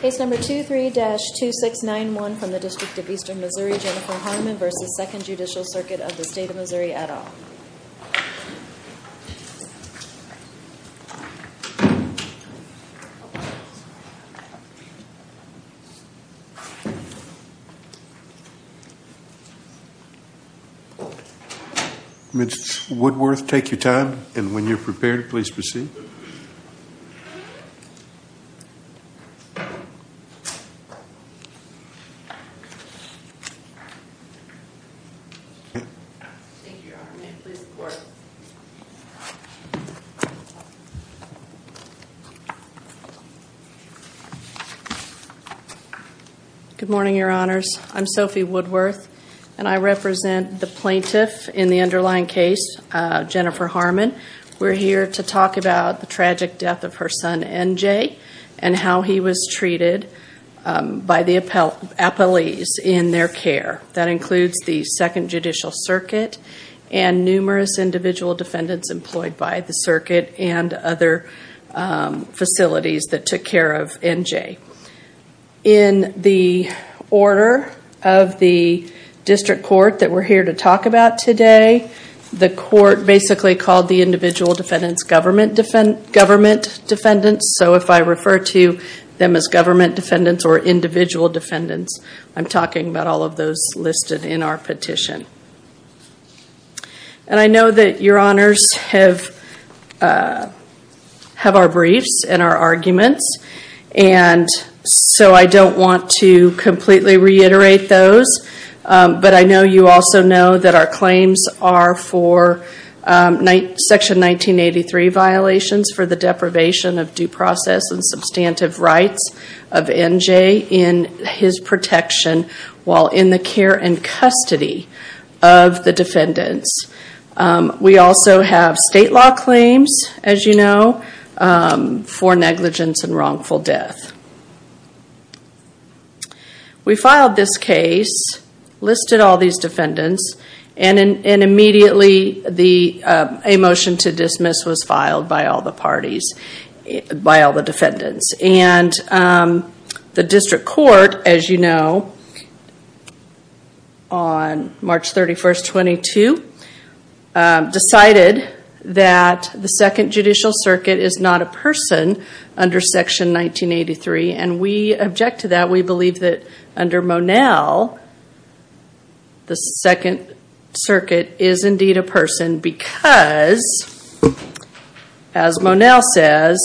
Case number 23-2691 from the District of Eastern Missouri, Jennifer Harmon v. Second Judicial Circuit of the State of Missouri, et al. Ms. Woodworth, take your time, and when you're prepared, please proceed. Good morning, Your Honors. I'm Sophie Woodworth, and I represent the plaintiff in the underlying case, Jennifer Harmon. We're here to talk about the tragic death of her son, N.J., and how he was treated by the appellees in their care. That includes the Second Judicial Circuit and numerous individual defendants employed by the circuit and other facilities that took care of N.J. In the order of the district court that we're here to talk about today, the court basically called the individual defendants government defendants. So if I refer to them as government defendants or individual defendants, I'm talking about all of those listed in our petition. And I know that Your Honors have our briefs and our arguments, and so I don't want to completely reiterate those. But I know you also know that our claims are for Section 1983 violations for the deprivation of due process and substantive rights of N.J. in his protection while in the care and custody of the defendants. We also have state law claims, as you know, for negligence and wrongful death. We filed this case, listed all these defendants, and immediately a motion to dismiss was filed by all the parties, by all the defendants. And the district court, as you know, on March 31st, 22, decided that the Second Judicial Circuit is not a person under Section 1983. And we object to that. We believe that under Monell, the Second Circuit is indeed a person because, as Monell says,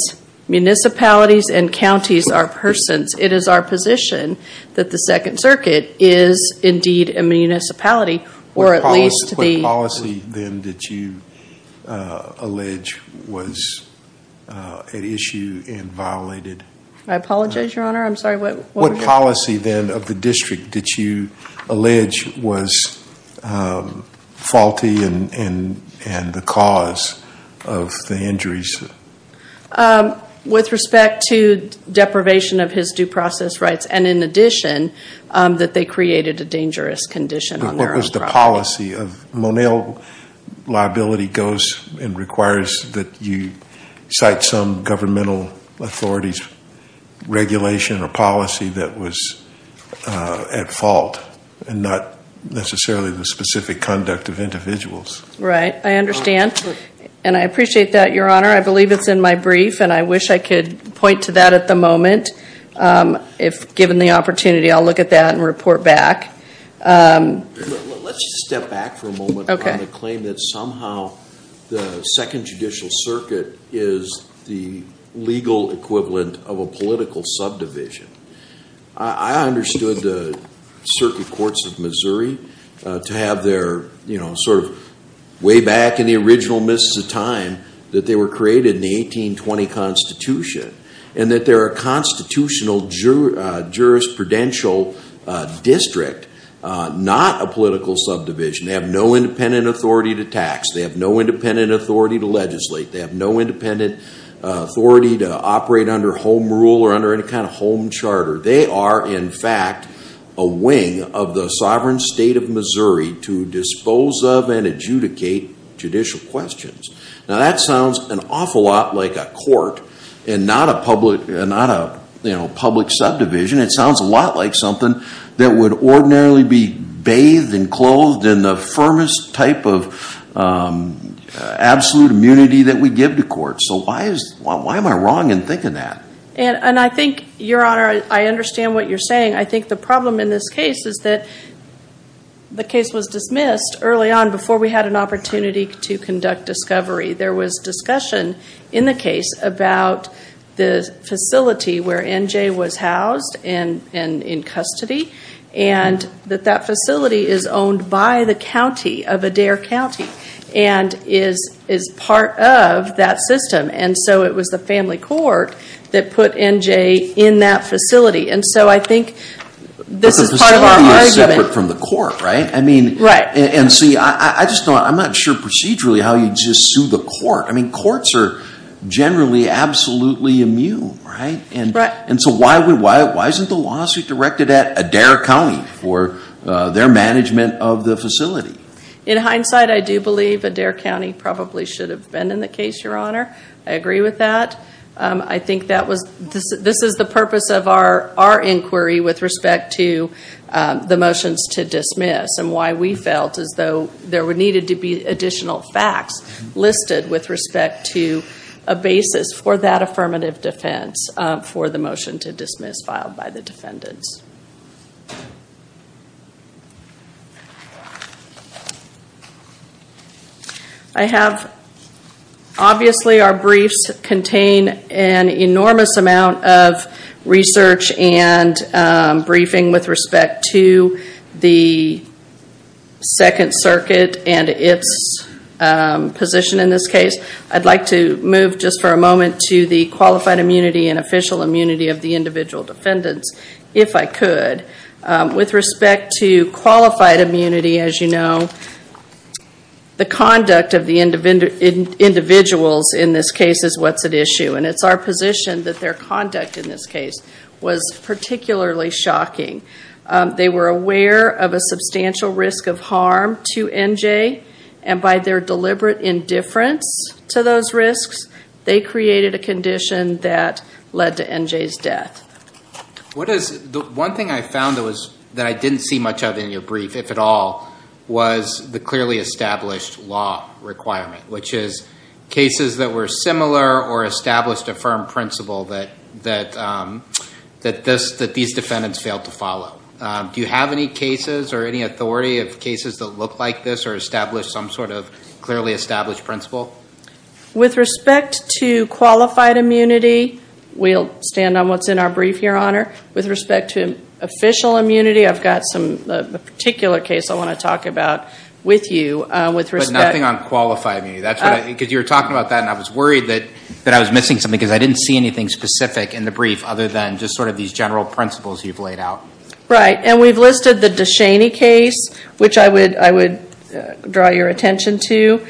municipalities and counties are persons. It is our position that the Second Circuit is indeed a municipality, or at least the— What policy, then, did you allege was at issue and violated? I apologize, Your Honor. I'm sorry, what were your— What policy, then, of the district did you allege was faulty and the cause of the injuries? With respect to deprivation of his due process rights and, in addition, that they created a dangerous condition on their own property. Monell liability goes and requires that you cite some governmental authority's regulation or policy that was at fault and not necessarily the specific conduct of individuals. Right, I understand. And I appreciate that, Your Honor. I believe it's in my brief, and I wish I could point to that at the moment. If given the opportunity, I'll look at that and report back. Let's step back for a moment on the claim that somehow the Second Judicial Circuit is the legal equivalent of a political subdivision. I understood the Circuit Courts of Missouri to have their, you know, sort of way back in the original midst of time that they were created in the 1820 Constitution, and that they're a constitutional jurisprudential district, not a political subdivision. They have no independent authority to tax. They have no independent authority to legislate. They have no independent authority to operate under home rule or under any kind of home charter. They are, in fact, a wing of the sovereign state of Missouri to dispose of and adjudicate judicial questions. Now, that sounds an awful lot like a court and not a public subdivision. It sounds a lot like something that would ordinarily be bathed and clothed in the firmest type of absolute immunity that we give to courts. So why am I wrong in thinking that? And I think, Your Honor, I understand what you're saying. I think the problem in this case is that the case was dismissed early on before we had an opportunity to conduct discovery. There was discussion in the case about the facility where N.J. was housed and in custody, and that that facility is owned by the county of Adair County and is part of that system. And so it was the family court that put N.J. in that facility. And so I think this is part of our argument. But the facility is separate from the court, right? Right. And see, I'm not sure procedurally how you'd just sue the court. I mean, courts are generally absolutely immune, right? Right. And so why isn't the lawsuit directed at Adair County for their management of the facility? In hindsight, I do believe Adair County probably should have been in the case, Your Honor. I agree with that. I think this is the purpose of our inquiry with respect to the motions to dismiss and why we felt as though there needed to be additional facts listed with respect to a basis for that affirmative defense for the motion to dismiss filed by the defendants. I have, obviously our briefs contain an enormous amount of research and briefing with respect to the Second Circuit and its position in this case. I'd like to move just for a moment to the qualified immunity and official immunity of the individual defendants. If I could, with respect to qualified immunity, as you know, the conduct of the individuals in this case is what's at issue. And it's our position that their conduct in this case was particularly shocking. They were aware of a substantial risk of harm to NJ, and by their deliberate indifference to those risks, they created a condition that led to NJ's death. One thing I found that I didn't see much of in your brief, if at all, was the clearly established law requirement, which is cases that were similar or established a firm principle that these defendants failed to follow. Do you have any cases or any authority of cases that look like this or establish some sort of clearly established principle? With respect to qualified immunity, we'll stand on what's in our brief, Your Honor. With respect to official immunity, I've got a particular case I want to talk about with you. But nothing on qualified immunity? Because you were talking about that, and I was worried that I was missing something, because I didn't see anything specific in the brief other than just sort of these general principles you've laid out. Right, and we've listed the DeShaney case, which I would draw your attention to,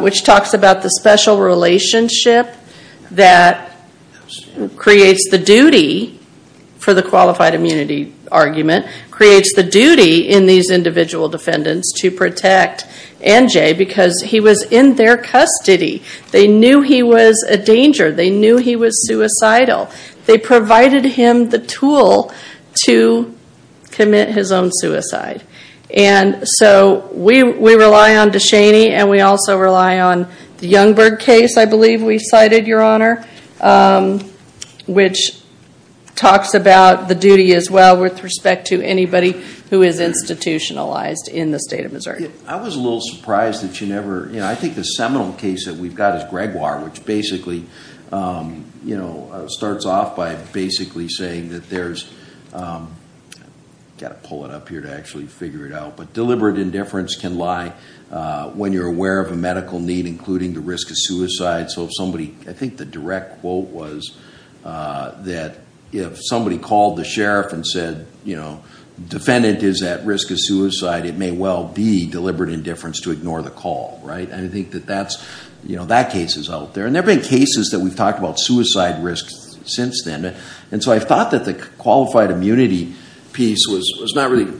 which talks about the special relationship that creates the duty for the qualified immunity argument, creates the duty in these individual defendants to protect NJ because he was in their custody. They knew he was a danger. They knew he was suicidal. They provided him the tool to commit his own suicide. And so we rely on DeShaney, and we also rely on the Youngberg case, I believe we cited, Your Honor, which talks about the duty as well with respect to anybody who is institutionalized in the state of Missouri. I was a little surprised that you never – I think the seminal case that we've got is Gregoire, which basically starts off by basically saying that there's – I've got to pull it up here to actually figure it out, but deliberate indifference can lie when you're aware of a medical need, including the risk of suicide. So if somebody – I think the direct quote was that if somebody called the sheriff and said, defendant is at risk of suicide, it may well be deliberate indifference to ignore the call, right? And I think that that case is out there. And there have been cases that we've talked about suicide risk since then. And so I thought that the qualified immunity piece was not really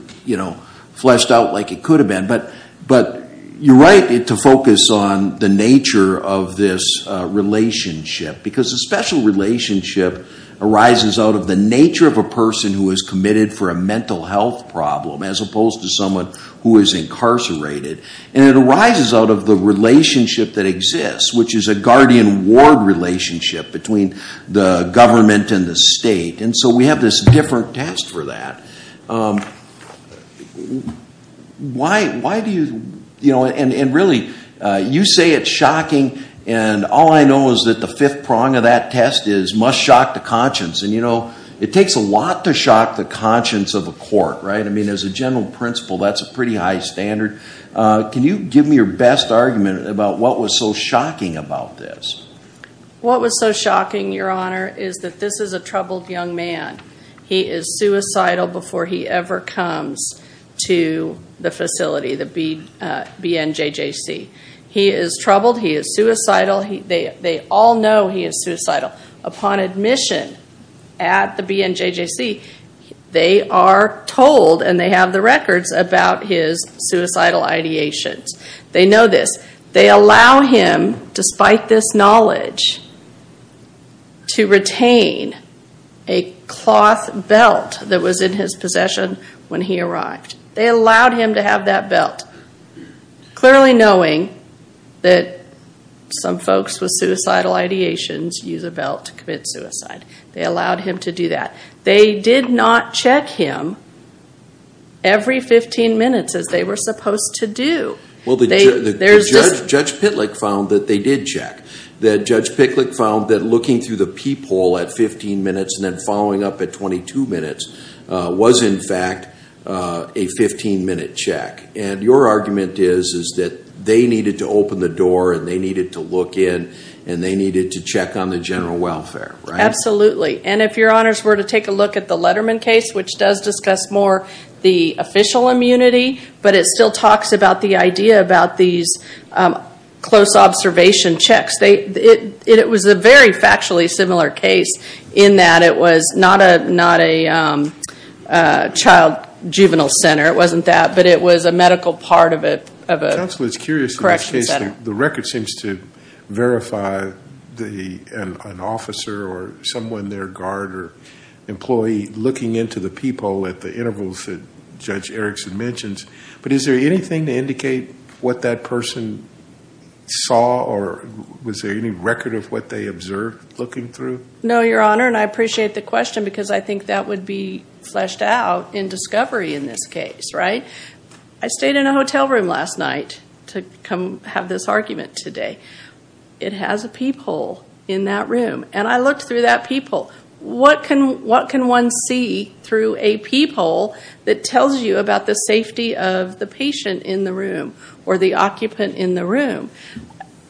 fleshed out like it could have been. But you're right to focus on the nature of this relationship, because a special relationship arises out of the nature of a person who is committed for a mental health problem as opposed to someone who is incarcerated. And it arises out of the relationship that exists, which is a guardian ward relationship between the government and the state. And so we have this different test for that. Why do you – and really, you say it's shocking, and all I know is that the fifth prong of that test is must shock the conscience. And it takes a lot to shock the conscience of a court, right? I mean, as a general principle, that's a pretty high standard. Can you give me your best argument about what was so shocking about this? What was so shocking, Your Honor, is that this is a troubled young man. He is suicidal before he ever comes to the facility, the BNJJC. He is troubled. He is suicidal. They all know he is suicidal. Upon admission at the BNJJC, they are told, and they have the records, about his suicidal ideations. They know this. They allow him, despite this knowledge, to retain a cloth belt that was in his possession when he arrived. They allowed him to have that belt, clearly knowing that some folks with suicidal ideations use a belt to commit suicide. They allowed him to do that. They did not check him every 15 minutes as they were supposed to do. Judge Pitlick found that they did check. Judge Pitlick found that looking through the peephole at 15 minutes and then following up at 22 minutes was, in fact, a 15-minute check. Your argument is that they needed to open the door and they needed to look in and they needed to check on the general welfare, right? If Your Honors were to take a look at the Letterman case, which does discuss more the official immunity, but it still talks about the idea about these close observation checks. It was a very factually similar case in that it was not a child juvenile center. It wasn't that, but it was a medical part of a correction center. Counsel, it's curious in this case. The record seems to verify an officer or someone, their guard or employee, looking into the peephole at the intervals that Judge Erickson mentions, but is there anything to indicate what that person saw or was there any record of what they observed looking through? No, Your Honor, and I appreciate the question because I think that would be fleshed out in discovery in this case, right? I stayed in a hotel room last night to have this argument today. It has a peephole in that room, and I looked through that peephole. What can one see through a peephole that tells you about the safety of the patient in the room or the occupant in the room?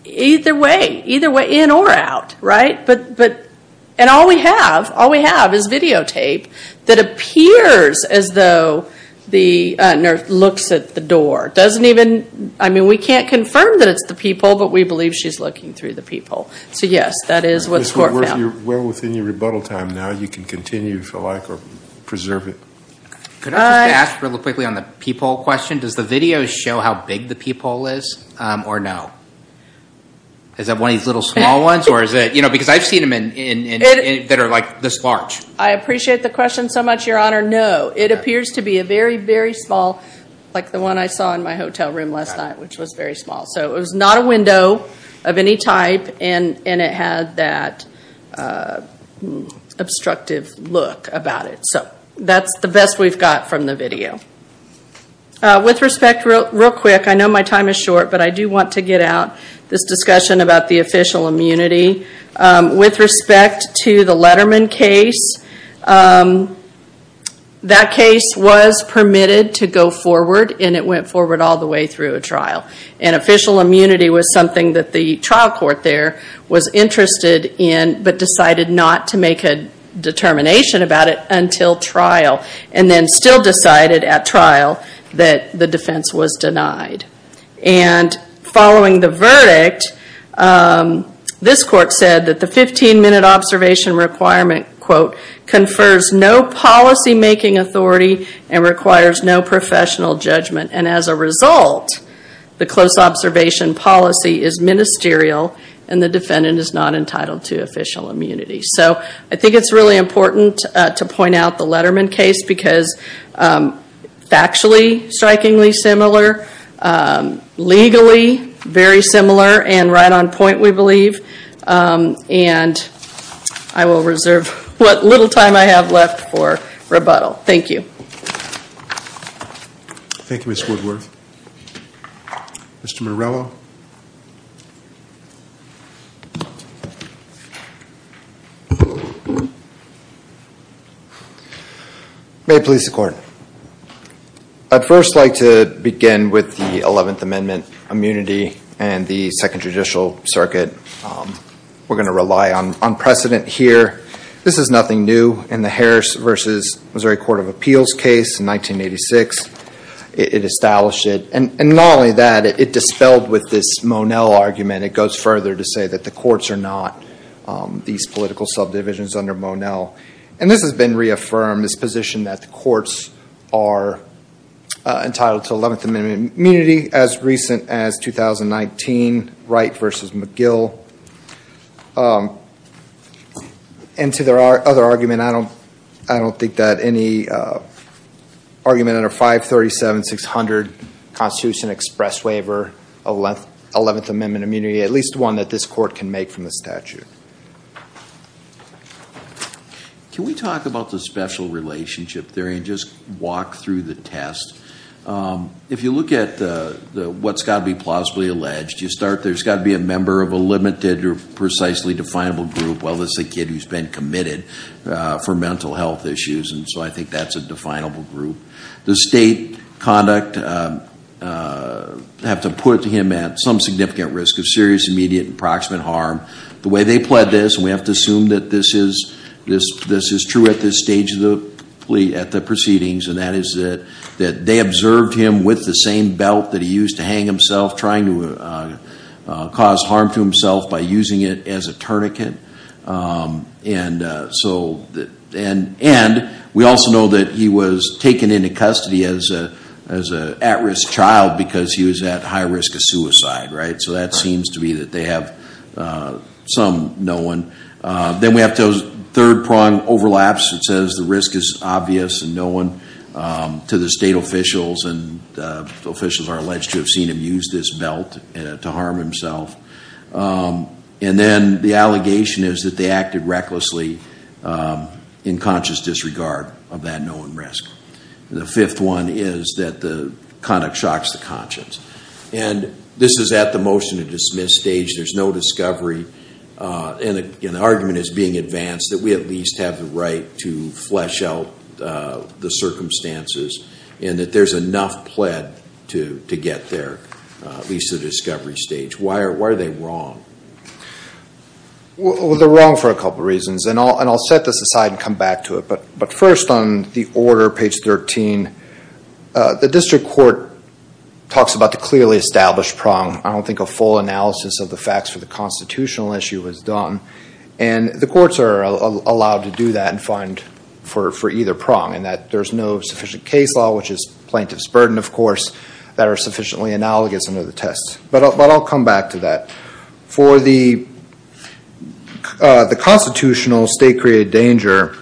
Either way, either way, in or out, right? And all we have, all we have is videotape that appears as though the nurse looks at the door. It doesn't even, I mean, we can't confirm that it's the peephole, but we believe she's looking through the peephole. So, yes, that is what's worked out. Well within your rebuttal time now, you can continue if you like or preserve it. Could I just ask really quickly on the peephole question? Does the video show how big the peephole is or no? Is that one of these little small ones or is it, you know, because I've seen them that are like this large. I appreciate the question so much, Your Honor. No, it appears to be a very, very small, like the one I saw in my hotel room last night, which was very small. So it was not a window of any type, and it had that obstructive look about it. So that's the best we've got from the video. With respect, real quick, I know my time is short, but I do want to get out this discussion about the official immunity. With respect to the Letterman case, that case was permitted to go forward, and it went forward all the way through a trial. And official immunity was something that the trial court there was interested in, but decided not to make a determination about it until trial, and then still decided at trial that the defense was denied. And following the verdict, this court said that the 15-minute observation requirement, quote, confers no policymaking authority and requires no professional judgment. And as a result, the close observation policy is ministerial, and the defendant is not entitled to official immunity. So I think it's really important to point out the Letterman case, because factually, strikingly similar. Legally, very similar, and right on point, we believe. And I will reserve what little time I have left for rebuttal. Thank you. Thank you, Ms. Woodworth. Mr. Morello. May it please the Court. I'd first like to begin with the 11th Amendment immunity and the Second Judicial Circuit. We're going to rely on precedent here. This is nothing new in the Harris v. Missouri Court of Appeals case in 1986. It established it, and not only that, it dispelled with this Monell argument. It goes further to say that the courts are not these political subdivisions under Monell. And this has been reaffirmed, this position that the courts are entitled to 11th Amendment immunity, as recent as 2019 Wright v. McGill. And to their other argument, I don't think that any argument under 537-600 Constitution express waiver, 11th Amendment immunity, at least one that this Court can make from the statute. Can we talk about the special relationship theory and just walk through the test? If you look at what's got to be plausibly alleged, you start, there's got to be a member of a limited or precisely definable group. Well, it's a kid who's been committed for mental health issues, and so I think that's a definable group. The state conduct have to put him at some significant risk of serious, immediate, and proximate harm. The way they pled this, and we have to assume that this is true at this stage of the proceedings, and that is that they observed him with the same belt that he used to hang himself, trying to cause harm to himself by using it as a tourniquet. And we also know that he was taken into custody as an at-risk child because he was at high risk of suicide, right? So that seems to be that they have some, no one. Then we have those third-pronged overlaps. It says the risk is obvious and known to the state officials, and officials are alleged to have seen him use this belt to harm himself. And then the allegation is that they acted recklessly in conscious disregard of that known risk. The fifth one is that the conduct shocks the conscience. And this is at the motion to dismiss stage. There's no discovery, and the argument is being advanced that we at least have the right to flesh out the circumstances and that there's enough pled to get there, at least at the discovery stage. Why are they wrong? Well, they're wrong for a couple reasons, and I'll set this aside and come back to it. But first, on the order, page 13, the district court talks about the clearly established prong. I don't think a full analysis of the facts for the constitutional issue was done. And the courts are allowed to do that and find for either prong, and that there's no sufficient case law, which is plaintiff's burden, of course, that are sufficiently analogous under the test. But I'll come back to that. For the constitutional state-created danger,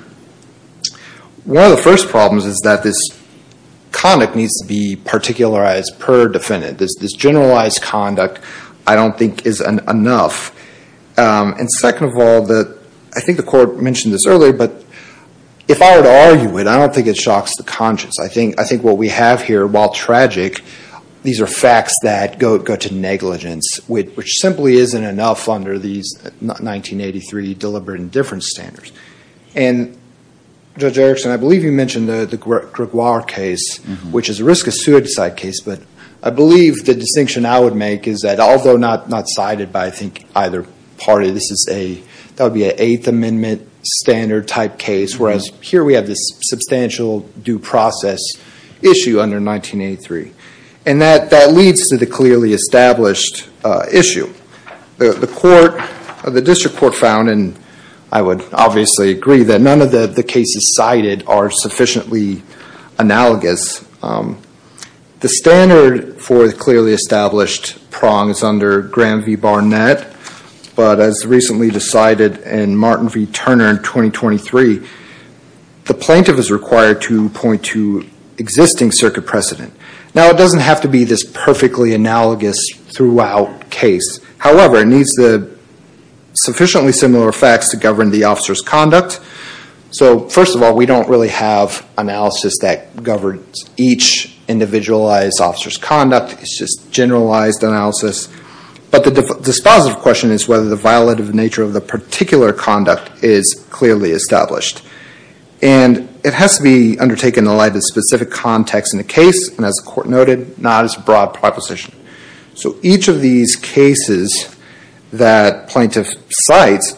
one of the first problems is that this conduct needs to be particularized per defendant. This generalized conduct, I don't think, is enough. And second of all, I think the court mentioned this earlier, but if I were to argue it, I don't think it shocks the conscience. I think what we have here, while tragic, these are facts that go to negligence, which simply isn't enough under these 1983 deliberate indifference standards. And Judge Erickson, I believe you mentioned the Gregoire case, which is a risk of suicide case. But I believe the distinction I would make is that, although not cited by, I think, either party, this would be an Eighth Amendment standard type case, whereas here we have this substantial due process issue under 1983. And that leads to the clearly established issue. The district court found, and I would obviously agree, that none of the cases cited are sufficiently analogous. The standard for the clearly established prong is under Graham v. Barnett, but as recently decided in Martin v. Turner in 2023, the plaintiff is required to point to existing circuit precedent. Now, it doesn't have to be this perfectly analogous throughout case. However, it needs the sufficiently similar facts to govern the officer's conduct. So, first of all, we don't really have analysis that governs each individualized officer's conduct. It's just generalized analysis. But the dispositive question is whether the violative nature of the particular conduct is clearly established. And it has to be undertaken in light of specific context in the case, and as the court noted, not as a broad proposition. So each of these cases that plaintiff cites,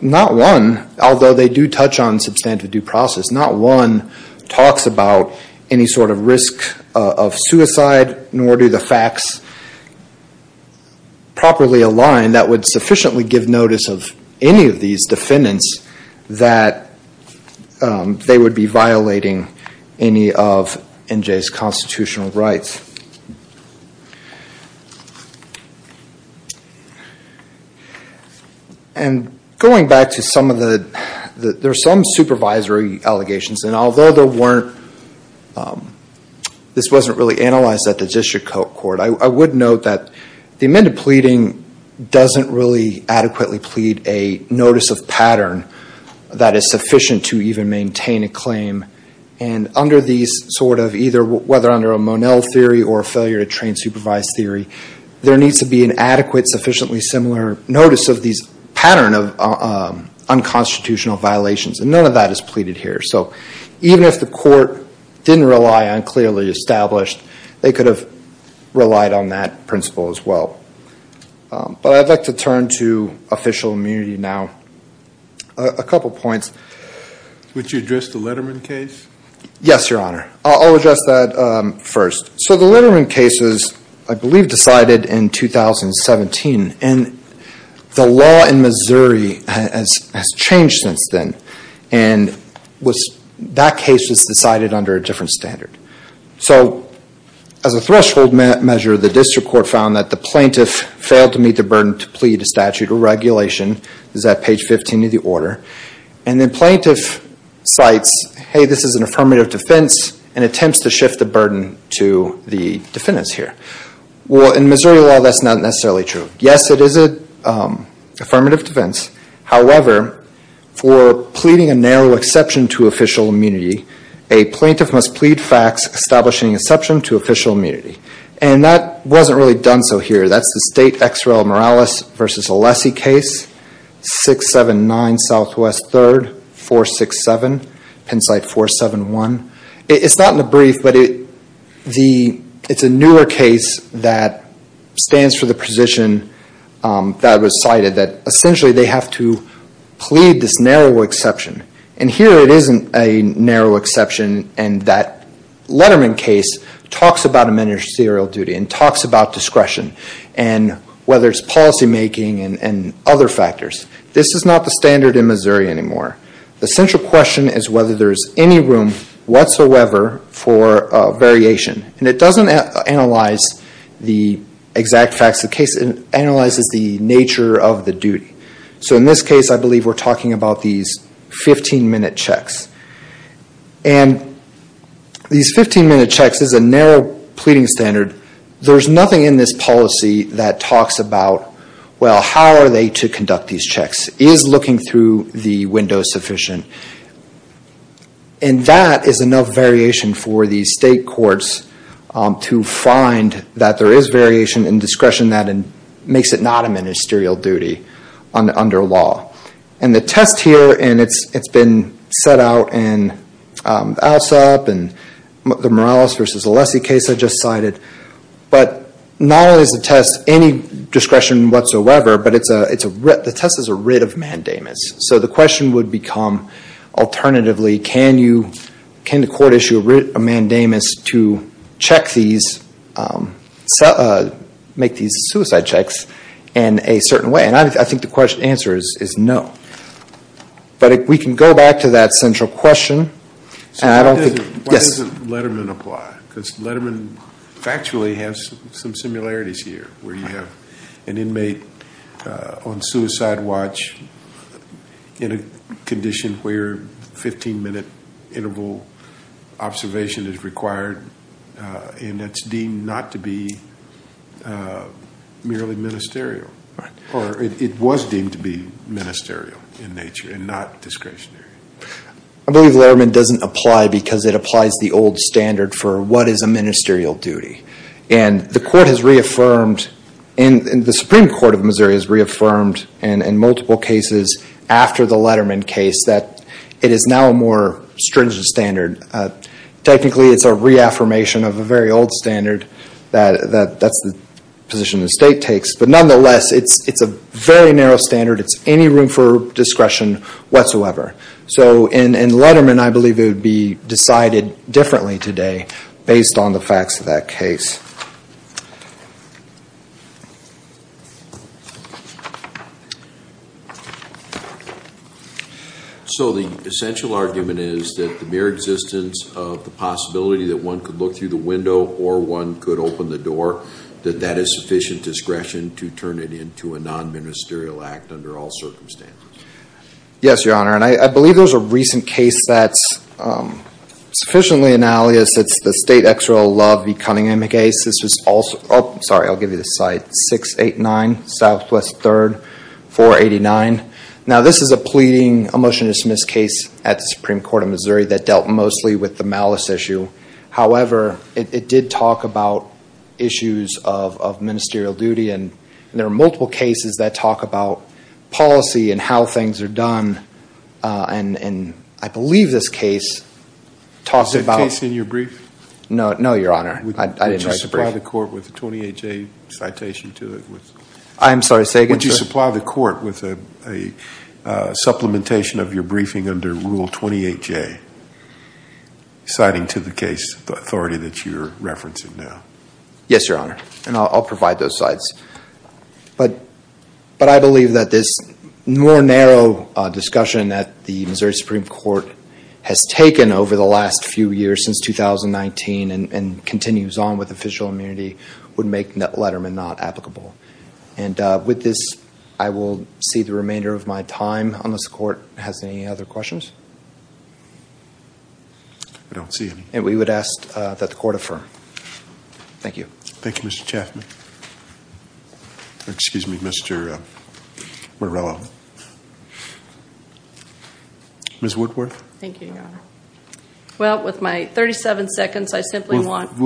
not one, although they do touch on substantive due process, not one talks about any sort of risk of suicide, nor do the facts properly align that would sufficiently give notice of any of these defendants that they would be violating any of NJ's constitutional rights. And going back to some of the, there are some supervisory allegations. And although there weren't, this wasn't really analyzed at the district court, I would note that the amended pleading doesn't really adequately plead a notice of pattern that is sufficient to even maintain a claim. And under these sort of either, whether under a Monell theory or a failure to train supervised theory, there needs to be an adequate sufficiently similar notice of these pattern of unconstitutional violations. And none of that is pleaded here. So even if the court didn't rely on clearly established, they could have relied on that principle as well. But I'd like to turn to official immunity now. A couple points. Would you address the Letterman case? Yes, Your Honor. I'll address that first. So the Letterman case was, I believe, decided in 2017. And the law in Missouri has changed since then. And that case was decided under a different standard. So as a threshold measure, the district court found that the plaintiff failed to meet the burden to plead a statute or regulation. This is at page 15 of the order. And the plaintiff cites, hey, this is an affirmative defense and attempts to shift the burden to the defendants here. Well, in Missouri law, that's not necessarily true. Yes, it is an affirmative defense. However, for pleading a narrow exception to official immunity, a plaintiff must plead facts establishing exception to official immunity. And that wasn't really done so here. That's the State Ex Rel Morales v. Alessi case, 679 Southwest 3rd, 467, Pennsite 471. It's not in the brief, but it's a newer case that stands for the position that was cited, that essentially they have to plead this narrow exception. And here it isn't a narrow exception. And that Letterman case talks about administrative serial duty and talks about discretion, and whether it's policymaking and other factors. This is not the standard in Missouri anymore. The central question is whether there's any room whatsoever for variation. And it doesn't analyze the exact facts of the case. It analyzes the nature of the duty. So in this case, I believe we're talking about these 15-minute checks. And these 15-minute checks is a narrow pleading standard. There's nothing in this policy that talks about, well, how are they to conduct these checks? Is looking through the window sufficient? And that is enough variation for the state courts to find that there is variation in discretion that makes it not a ministerial duty under law. And the test here, and it's been set out in ALSEP and the Morales v. Alessi case I just cited. But not only is the test any discretion whatsoever, but the test is a writ of mandamus. So the question would become, alternatively, can the court issue a writ of mandamus to check these, make these suicide checks in a certain way? And I think the answer is no. But we can go back to that central question. Why doesn't Letterman apply? Because Letterman factually has some similarities here, where you have an inmate on suicide watch in a condition where 15-minute interval observation is required. And it's deemed not to be merely ministerial. Or it was deemed to be ministerial in nature and not discretionary. I believe Letterman doesn't apply because it applies the old standard for what is a ministerial duty. And the court has reaffirmed, and the Supreme Court of Missouri has reaffirmed in multiple cases after the Letterman case that it is now a more stringent standard. Technically, it's a reaffirmation of a very old standard. That's the position the state takes. But nonetheless, it's a very narrow standard. It's any room for discretion whatsoever. So in Letterman, I believe it would be decided differently today based on the facts of that case. So the essential argument is that the mere existence of the possibility that one could look through the window or one could open the door, that that is sufficient discretion to turn it into a non-ministerial act under all circumstances? Yes, Your Honor. And I believe there's a recent case that's sufficiently analogous. It's the State Exera Love v. Cunningham case. 689 Southwest 3rd 489. Now this is a pleading, a motion to dismiss case at the Supreme Court of Missouri that dealt mostly with the malice issue. However, it did talk about issues of ministerial duty and there are multiple cases that talk about policy and how things are done. And I believe this case talks about... Was that case in your brief? No, Your Honor. I didn't write the brief. Would you supply the court with a supplementation of your briefing under Rule 28J citing to the case authority that you're referencing now? Yes, Your Honor. And I'll provide those slides. But I believe that this more narrow discussion that the Missouri Supreme Court has taken over the last few years since 2019 and continues on with official immunity would make Letterman not applicable. And with this, I will see the remainder of my time unless the court has any other questions. I don't see any. And we would ask that the court affirm. Thank you. Thank you, Mr. Chaffman. Excuse me, Mr. Morello. Ms. Woodworth. Well, with my 37 seconds, I simply want to... The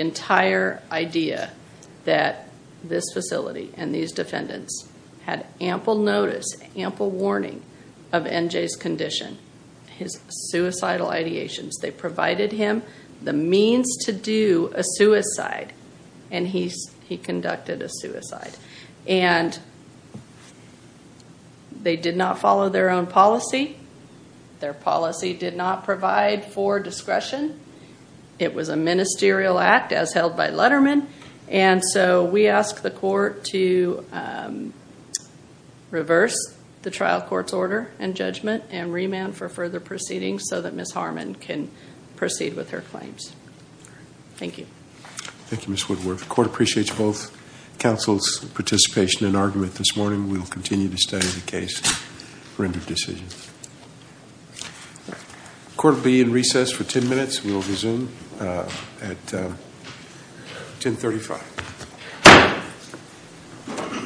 entire idea that this facility and these defendants had ample notice, ample warning of NJ's condition, his suicidal ideations. They provided him the means to do a suicide and he conducted a suicide. And they did not follow their own policy. Their policy did not provide for discretion. It was a ministerial act as held by Letterman. And so we ask the court to reverse the trial court's order and judgment and remand for further proceedings so that Ms. Harmon can proceed with her claims. Thank you. Thank you, Ms. Woodworth. The court appreciates both counsel's participation in argument this morning. We will continue to study the case and render decisions. The court will be in recess for 10 minutes. We will resume at 1035.